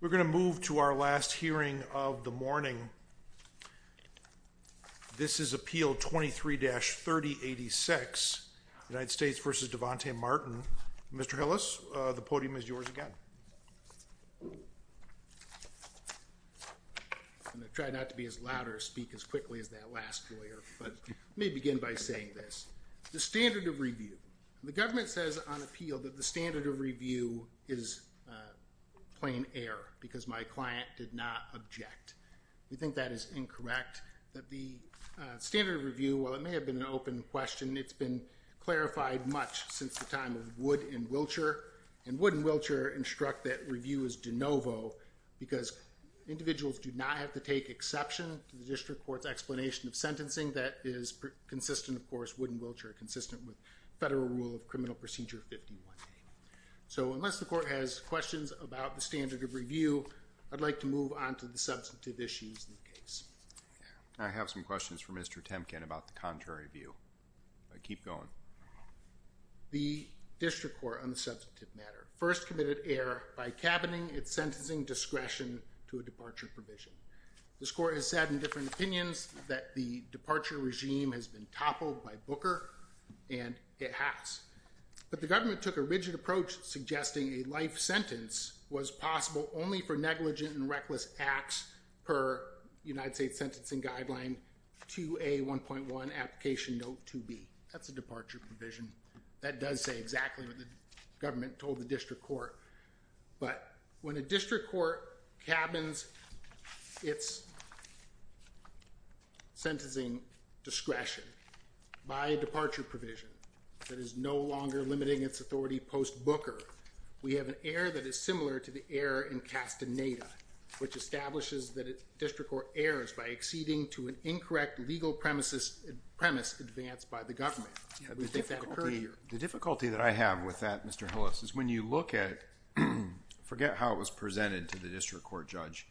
We're going to move to our last hearing of the morning. This is Appeal 23-3086, United States v. Devontae Martin. Mr. Hillis, the podium is yours again. I'm going to try not to be as loud or speak as quickly as that last lawyer, but let me begin by saying this. The standard of review. The government says on appeal that the standard of review is plain error, because my client did not object. We think that is incorrect, that the standard of review, while it may have been an open question, it's been clarified much since the time of Wood and Wiltshire, and Wood and Wiltshire instruct that review is de novo, because individuals do not have to take exception to the district court's explanation of sentencing that is consistent, of course, Wood and Wiltshire, consistent with federal rule of criminal procedure 51A. So unless the court has questions about the standard of review, I'd like to move on to the substantive issues in the case. I have some questions for Mr. Temkin about the contrary view, but keep going. The district court on the substantive matter first committed error by cabining its sentencing discretion to a departure provision. This court has said in different opinions that the departure regime has been toppled by Booker, and it has. But the government took a rigid approach, suggesting a life sentence was possible only for negligent and reckless acts per United States Sentencing Guideline 2A.1.1 Application Note 2B. That's a departure provision. That does say exactly what the government told the district court. But when a district court cabins its sentencing discretion by a departure provision that is no longer limiting its authority post-Booker, we have an error that is similar to the error in Castaneda, which establishes that a district court errs by acceding to an incorrect legal premise advanced by the government. The difficulty that I have with that, Mr. Hillis, is when you look at, forget how it was presented to the district court judge,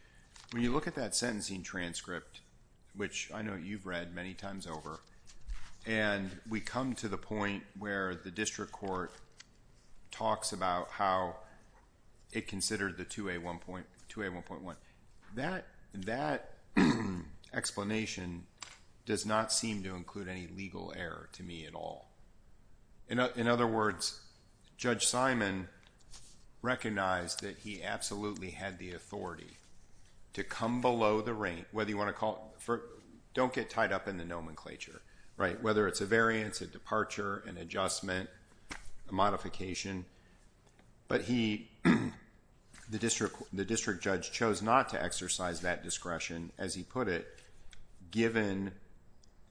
when you look at that sentencing transcript, which I know you've read many times over, and we come to the point where the district court talks about how it considered the 2A.1.1, that explanation does not seem to include any legal error to me at all. In other words, Judge Simon recognized that he absolutely had the authority to come below the rank, whether you want to call it, don't get tied up in the nomenclature, right? Whether it's a variance, a departure, an adjustment, a modification. But he, the district judge chose not to exercise that discretion, as he put it, given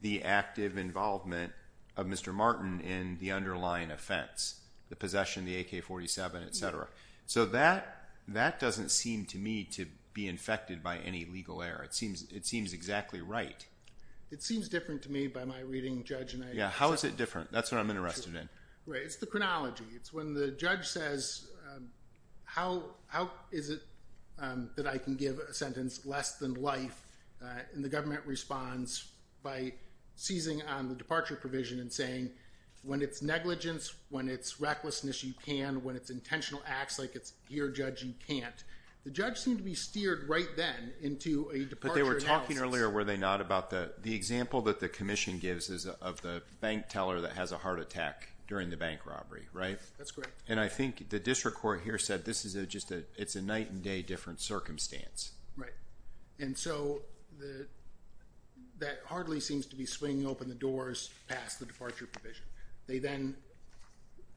the active involvement of Mr. Martin in the underlying offense, the possession of the AK-47, etc. So that doesn't seem to me to be infected by any legal error. It seems exactly right. It seems different to me by my reading, Judge. How is it different? That's what I'm interested in. Right. It's the chronology. It's when the judge says, how is it that I can give a sentence less than life, and the defendant responds by seizing on the departure provision and saying, when it's negligence, when it's recklessness, you can, when it's intentional acts, like it's here, Judge, you can't. The judge seemed to be steered right then into a departure analysis. But they were talking earlier, were they not, about the example that the commission gives is of the bank teller that has a heart attack during the bank robbery, right? That's correct. And I think the district court here said this is just a, it's a night and day different circumstance. Right. And so the, that hardly seems to be swinging open the doors past the departure provision. They then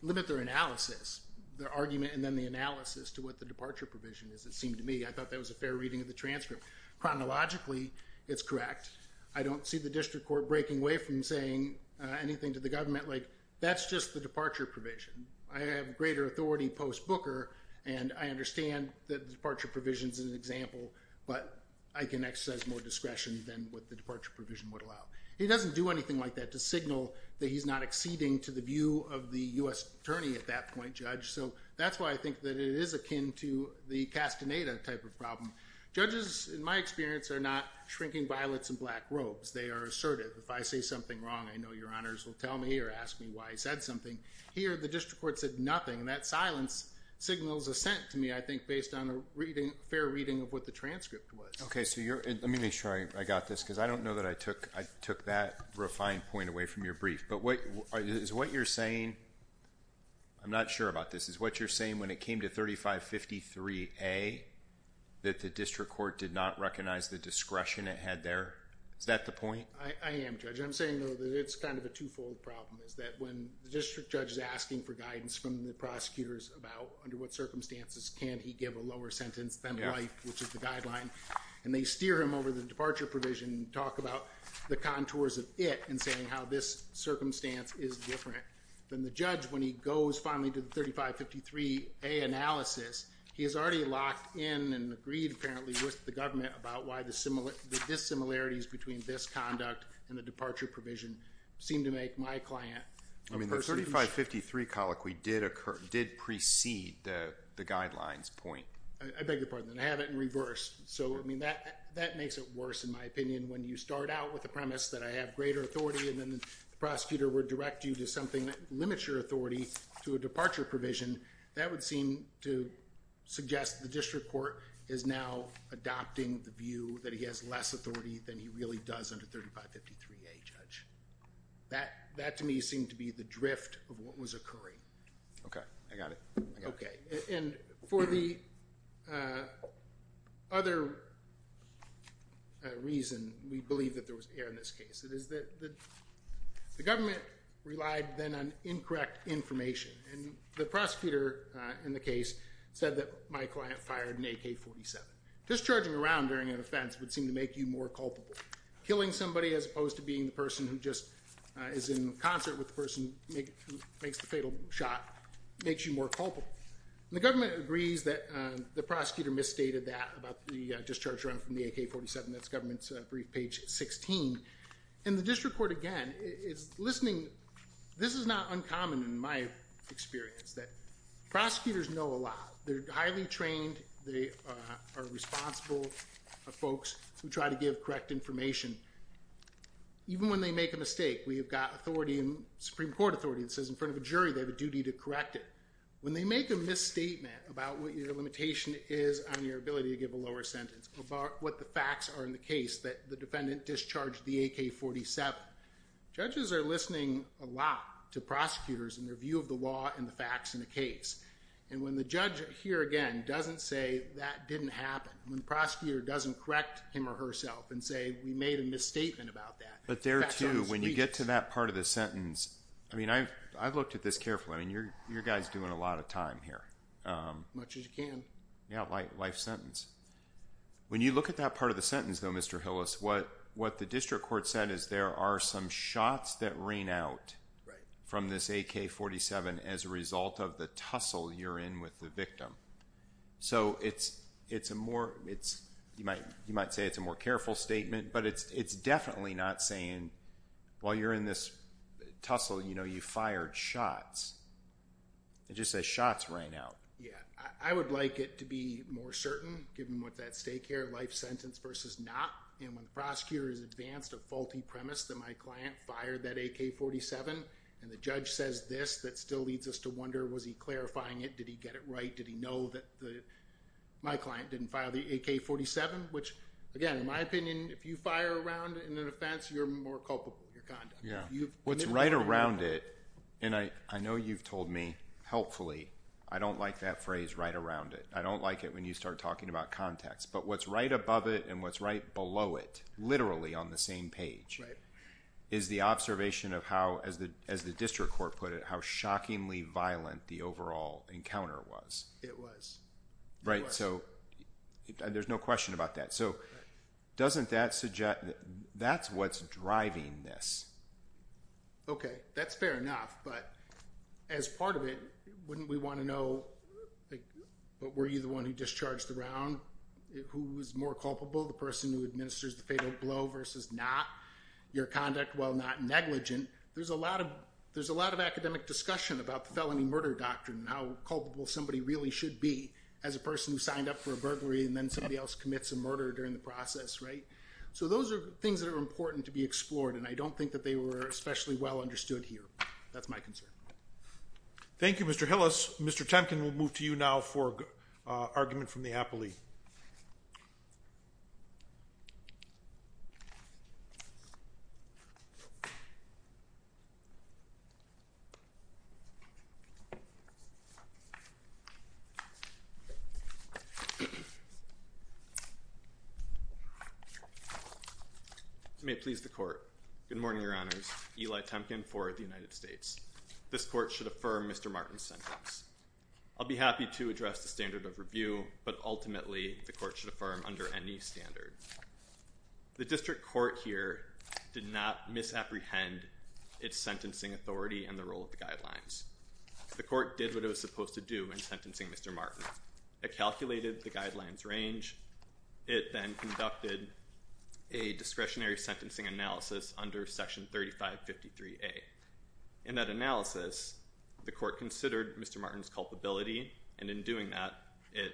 limit their analysis, their argument, and then the analysis to what the departure provision is. It seemed to me, I thought that was a fair reading of the transcript. Chronologically, it's correct. I don't see the district court breaking away from saying anything to the government like, that's just the departure provision. I have greater authority post-Booker, and I understand that the departure provision's an example, but I can exercise more discretion than what the departure provision would allow. He doesn't do anything like that to signal that he's not acceding to the view of the U.S. attorney at that point, Judge, so that's why I think that it is akin to the Castaneda type of problem. Judges, in my experience, are not shrinking violets and black robes. They are assertive. If I say something wrong, I know your honors will tell me or ask me why I said something. Here the district court said nothing, and that silence signals assent to me, I think, based on a fair reading of what the transcript was. Okay, so let me make sure I got this, because I don't know that I took that refined point away from your brief, but is what you're saying, I'm not sure about this, is what you're saying when it came to 3553A, that the district court did not recognize the discretion it had there? Is that the point? I am, Judge. I'm saying, though, that it's kind of a two-fold problem, is that when the district judge is asking for guidance from the prosecutors about under what circumstances can he give a lower sentence than life, which is the guideline, and they steer him over the departure provision and talk about the contours of it, and saying how this circumstance is different, then the judge, when he goes finally to the 3553A analysis, he is already locked in and agreed, apparently, with the government about why the dissimilarities between this conduct and the departure provision seem to make my client a person who should not be held accountable for his actions. So the 3553 colloquy did precede the guidelines point. I beg your pardon. I have it in reverse. So that makes it worse, in my opinion, when you start out with the premise that I have greater authority, and then the prosecutor would direct you to something that limits your authority to a departure provision. That would seem to suggest the district court is now adopting the view that he has less authority than he really does under 3553A, Judge. That, to me, seemed to be the drift of what was occurring. Okay. I got it. Okay. And for the other reason we believe that there was error in this case, it is that the government relied then on incorrect information, and the prosecutor in the case said that my client fired an AK-47. Discharging around during an offense would seem to make you more culpable. Killing somebody as opposed to being the person who just is in concert with the person who makes the fatal shot makes you more culpable. The government agrees that the prosecutor misstated that about the discharge from the AK-47. That's government's brief, page 16. And the district court, again, is listening. This is not uncommon in my experience, that prosecutors know a lot. They're highly trained. They are responsible folks who try to give correct information. Even when they make a mistake, we have got authority, Supreme Court authority, that says in front of a jury they have a duty to correct it. When they make a misstatement about what your limitation is on your ability to give a lower sentence or what the facts are in the case that the defendant discharged the AK-47, judges are listening a lot to prosecutors and their view of the law and the facts in the case. And when the judge here, again, doesn't say that didn't happen, when the prosecutor doesn't correct him or herself and say we made a misstatement about that. But there too, when you get to that part of the sentence, I mean, I've looked at this carefully. I mean, you're guys doing a lot of time here. As much as you can. Yeah, life sentence. When you look at that part of the sentence, though, Mr. Hillis, what the district court said is there are some shots that rain out from this AK-47 as a result of the tussle you're in with the victim. So it's a more, you might say it's a more careful statement, but it's definitely not saying while you're in this tussle, you know, you fired shots. It just says shots rain out. Yeah. I would like it to be more certain, given what that stake here, life sentence versus not. And when the prosecutor has advanced a faulty premise that my client fired that AK-47 and the judge says this, that still leads us to wonder, was he clarifying it? Did he get it right? Did he know that my client didn't fire the AK-47, which, again, in my opinion, if you fire around in an offense, you're more culpable of your conduct. What's right around it, and I know you've told me, helpfully, I don't like that phrase right around it. I don't like it when you start talking about context. But what's right above it and what's right below it, literally on the same page, is the observation of how, as the district court put it, how shockingly violent the overall encounter was. It was. Of course. Right. So there's no question about that. So doesn't that suggest, that's what's driving this. Okay. That's fair enough, but as part of it, wouldn't we want to know, were you the one who discharged the round, who was more culpable, the person who administers the fatal blow versus not? Your conduct, while not negligent. There's a lot of academic discussion about the felony murder doctrine and how culpable somebody really should be as a person who signed up for a burglary and then somebody else commits a murder during the process, right? So those are things that are important to be explored, and I don't think that they were especially well understood here. That's my concern. Thank you, Mr. Hillis. Mr. Temkin, we'll move to you now for an argument from the appellee. May it please the court. Good morning, your honors. Eli Temkin for the United States. This court should affirm Mr. Martin's sentence. I'll be happy to address the standard of review, but ultimately, the court should affirm under any standard. The district court here did not misapprehend its sentencing authority and the role of the The court did what it was supposed to do in sentencing Mr. Martin. It calculated the guidelines range. It then conducted a discretionary sentencing analysis under Section 3553A. In that analysis, the court considered Mr. Martin's culpability, and in doing that, it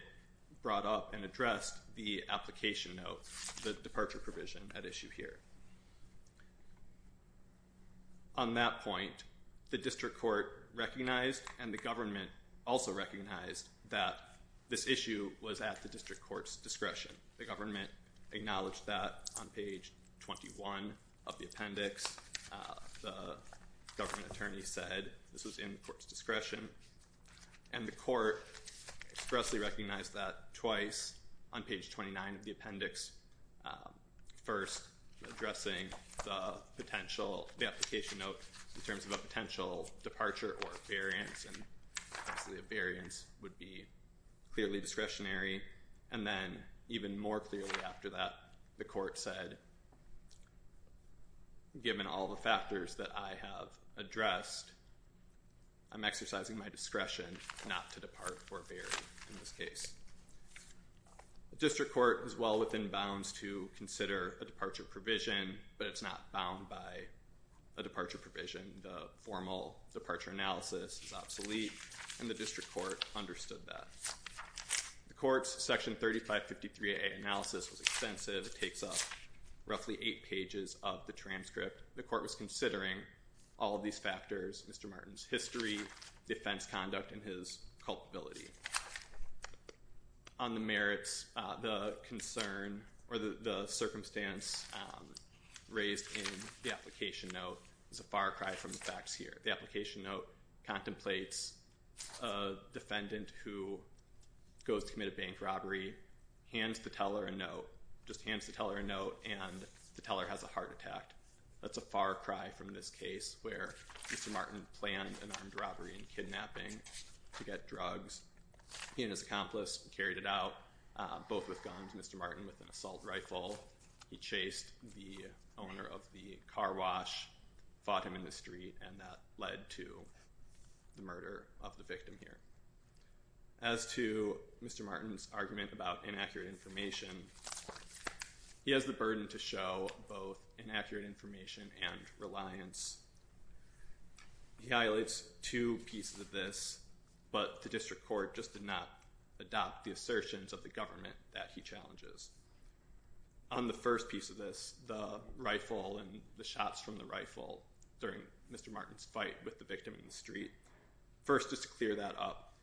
brought up and addressed the application note, the departure provision at issue here. On that point, the district court recognized and the government also recognized that this issue was at the district court's discretion. The government acknowledged that on page 21 of the appendix. The government attorney said this was in the court's discretion, and the court expressly recognized that twice on page 29 of the appendix. First, addressing the potential, the application note in terms of a potential departure or variance, and obviously a variance would be clearly discretionary, and then even more clearly after that, the court said, given all the factors that I have addressed, I'm exercising my discretion not to depart or vary in this case. The district court is well within bounds to consider a departure provision, but it's not bound by a departure provision. The formal departure analysis is obsolete, and the district court understood that. The court's Section 3553A analysis was extensive. It takes up roughly eight pages of the transcript. The court was considering all these factors, Mr. Martin's history, defense conduct, and his culpability. On the merits, the concern, or the circumstance raised in the application note is a far cry from the facts here. The application note contemplates a defendant who goes to commit a bank robbery, hands the teller a note, just hands the teller a note, and the teller has a heart attack. That's a far cry from this case where Mr. Martin planned an armed robbery and kidnapping to get drugs. He and his accomplice carried it out, both with guns. Mr. Martin with an assault rifle. He chased the owner of the car wash, fought him in the street, and that led to the murder of the victim here. As to Mr. Martin's argument about inaccurate information, he has the burden to show both inaccurate information and reliance. He highlights two pieces of this, but the district court just did not adopt the assertions of the government that he challenges. On the first piece of this, the rifle and the shots from the rifle during Mr. Martin's fight with the victim in the street, first just to clear that up,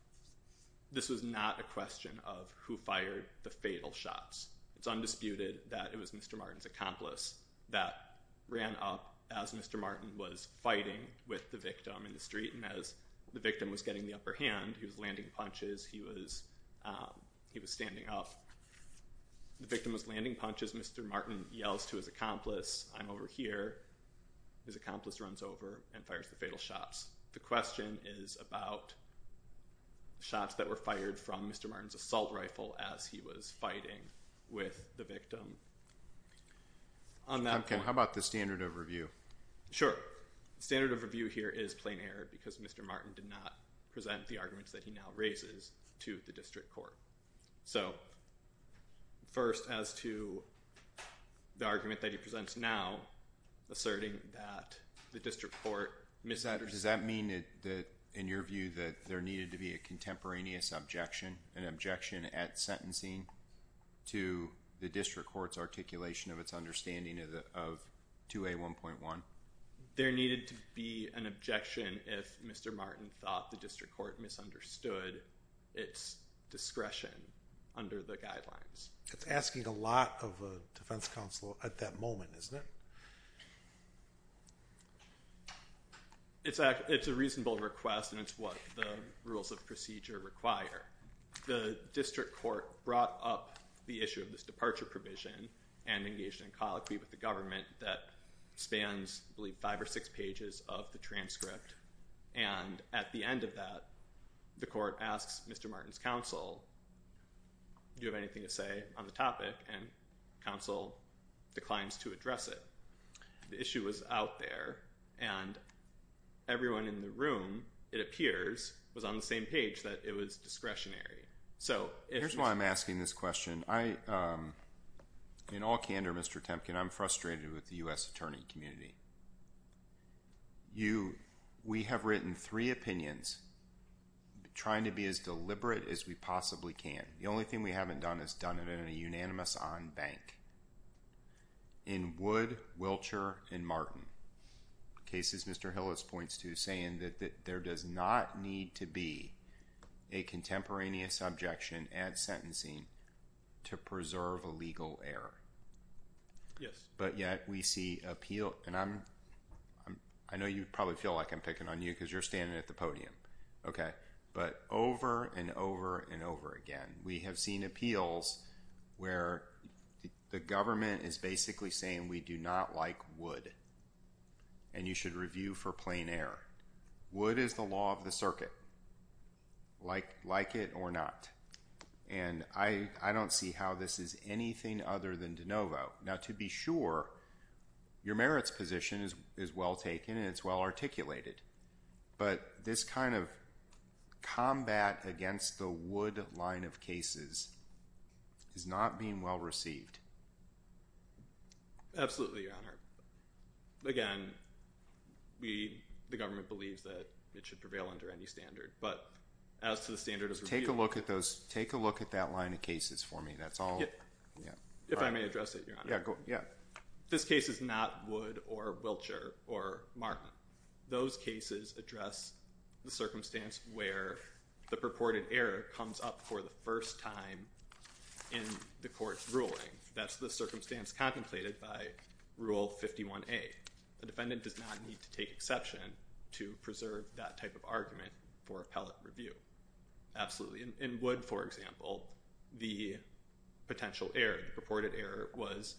this was not a question of who fired the fatal shots. It's undisputed that it was Mr. Martin's accomplice that ran up as Mr. Martin was fighting with the victim in the street, and as the victim was getting the upper hand, he was landing punches, he was standing up. The victim was landing punches. Mr. Martin yells to his accomplice, I'm over here. His accomplice runs over and fires the fatal shots. The question is about shots that were fired from Mr. Martin's assault rifle as he was fighting with the victim. Tom, how about the standard of review? Sure. The standard of review here is plain error because Mr. Martin did not present the arguments that he now raises to the district court. So, first as to the argument that he presents now, asserting that the district court misaddressed Does that mean that, in your view, that there needed to be a contemporaneous objection, an objection at sentencing to the district court's articulation of its understanding of 2A1.1? There needed to be an objection if Mr. Martin thought the district court misunderstood its discretion under the guidelines. It's asking a lot of a defense counsel at that moment, isn't it? It's a reasonable request and it's what the rules of procedure require. The district court brought up the issue of this departure provision and engaged in a colloquy with the government that spans, I believe, five or six pages of the transcript. And at the end of that, the court asks Mr. Martin's counsel, do you have anything to say on the topic? And counsel declines to address it. The issue was out there and everyone in the room, it appears, was on the same page that it was discretionary. Here's why I'm asking this question. In all candor, Mr. Temkin, I'm frustrated with the U.S. attorney community. We have written three opinions, trying to be as deliberate as we possibly can. The only thing we haven't done is done it in a unanimous on-bank. In Wood, Wilcher, and Martin, cases Mr. Hillis points to saying that there does not need to be a contemporaneous objection at sentencing to preserve a legal error. But yet we see appeal, and I know you probably feel like I'm picking on you because you're standing at the podium. But over and over and over again, we have seen appeals where the government is basically saying we do not like Wood and you should review for plain error. Wood is the law of the circuit, like it or not. And I don't see how this is anything other than de novo. Now to be sure, your merits position is well taken and it's well articulated. But this kind of combat against the Wood line of cases is not being well received. Absolutely, Your Honor. Again, the government believes that it should prevail under any standard. But as to the standard of review... Take a look at that line of cases for me. If I may address it, Your Honor. This case is not Wood or Wilcher or Martin. Those cases address the circumstance where the purported error comes up for the first time in the court's ruling. That's the circumstance contemplated by Rule 51A. The defendant does not need to take exception to preserve that type of argument for appellate review. Absolutely. In Wood, for example, the potential error, the purported error was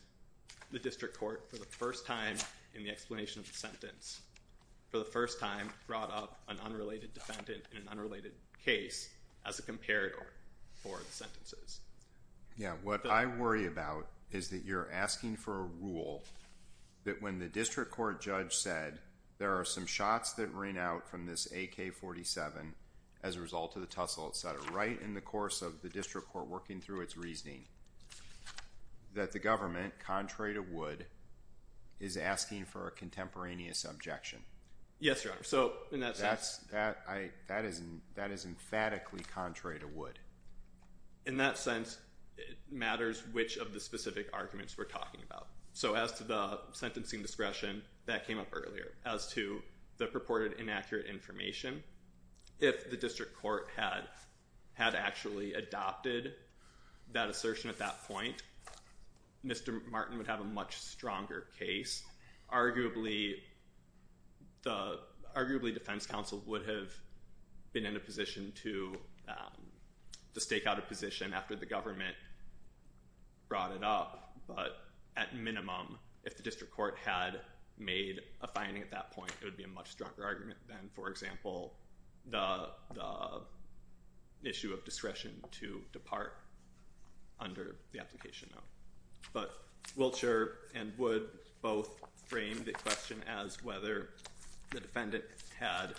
the district court for the first time in the explanation of the sentence. For the first time brought up an unrelated defendant in an unrelated case as a comparator for the sentences. Yeah, what I worry about is that you're asking for a rule that when the district court judge said there are some shots that ring out from this AK-47 as a result of the tussle, et cetera, right in the course of the district court working through its reasoning, that the government, contrary to Wood, is asking for a contemporaneous objection. Yes, Your Honor. That is emphatically contrary to Wood. In that sense, it matters which of the specific arguments we're talking about. As to the sentencing discretion, that came up earlier. As to the purported inaccurate information, if the district court had actually adopted that assertion at that point, Mr. Martin would have a much stronger case. Arguably, the defense counsel would have been in a position to stake out a position after the government brought it up, but at minimum, if the district court had made a finding at that point, it would be a much stronger argument than, for example, the issue of discretion to depart under the application now. But Wiltshire and Wood both framed the question as whether the defendant had,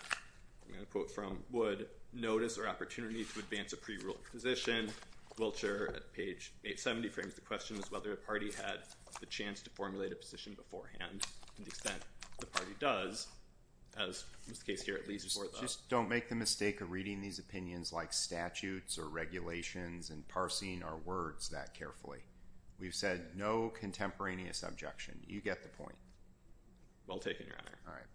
I'm going to quote from Wood, notice or opportunity to advance a pre-ruled position. Wiltshire, at page 870, frames the question as whether a party had the chance to formulate a position beforehand to the extent the party does, as was the case here at least before that. Just don't make the mistake of reading these opinions like statutes or regulations and parsing our words that carefully. We've said no contemporaneous objection. You get the point. Well taken, Your Honor. All right.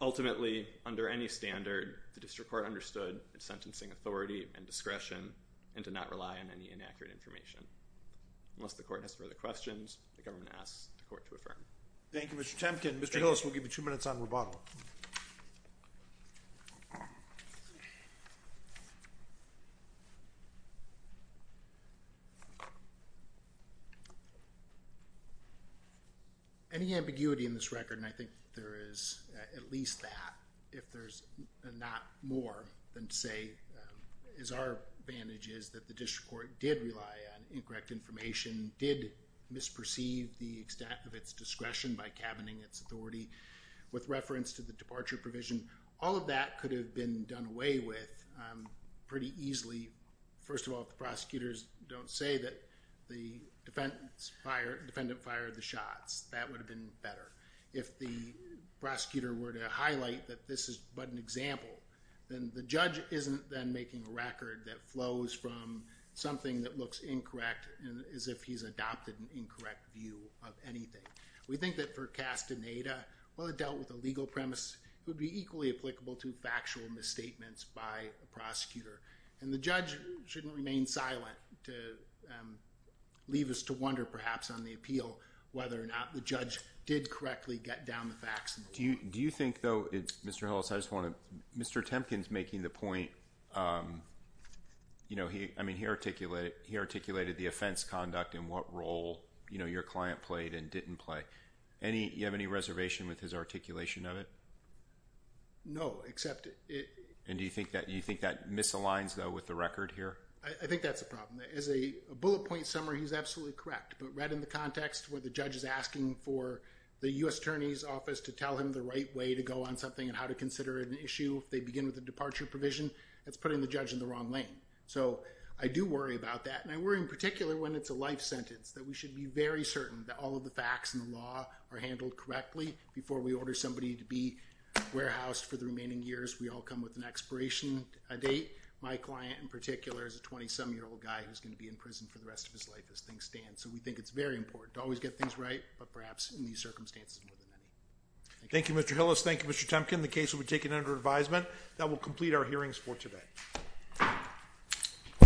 Ultimately, under any standard, the district court understood its sentencing authority and discretion and did not rely on any inaccurate information. Unless the court has further questions, the government asks the court to affirm. Thank you, Mr. Temkin. Mr. Hillis, we'll give you two minutes on rebuttal. Any ambiguity in this record, and I think there is at least that, if there's not more than to say is our advantage, is that the district court did rely on incorrect information, did misperceive the extent of its discretion by cabining its authority with reference to the departure provision. All of that could have been done away with pretty easily. First of all, if the prosecutors don't say that the defendant fired the shots, that would have been better. If the prosecutor were to highlight that this is but an example, then the judge isn't then making a record that flows from something that looks incorrect as if he's adopted an incorrect view of anything. We think that for Castaneda, while it dealt with a legal premise, it would be equally applicable to factual misstatements by a prosecutor. And the judge shouldn't remain silent to leave us to wonder perhaps on the appeal whether or not the judge did correctly get down the facts. Do you think, though, Mr. Hillis, Mr. Temkin's making the point, he articulated the offense conduct and what role your client played and didn't play. Do you have any reservation with his articulation of it? No, except it... And do you think that misaligns, though, with the record here? I think that's a problem. As a bullet point somewhere, he's absolutely correct. But right in the context where the judge is asking for the U.S. Attorney's Office to tell him the right way to go on something and how to consider an issue, they begin with the departure provision, that's putting the judge in the wrong lane. So I do worry about that, and I worry in particular when it's a life sentence, that we should be very certain that all of the facts and the law are handled correctly before we order somebody to be warehoused for the remaining years. We all come with an expiration date. My client in particular is a 20-some-year-old guy who's going to be in prison for the rest of his life as things stand. So we think it's very important to always get things right, but perhaps in these circumstances more than any. Thank you, Mr. Hillis. Thank you, Mr. Temkin. The case will be taken under advisement. That will complete our hearings for today. Thank you.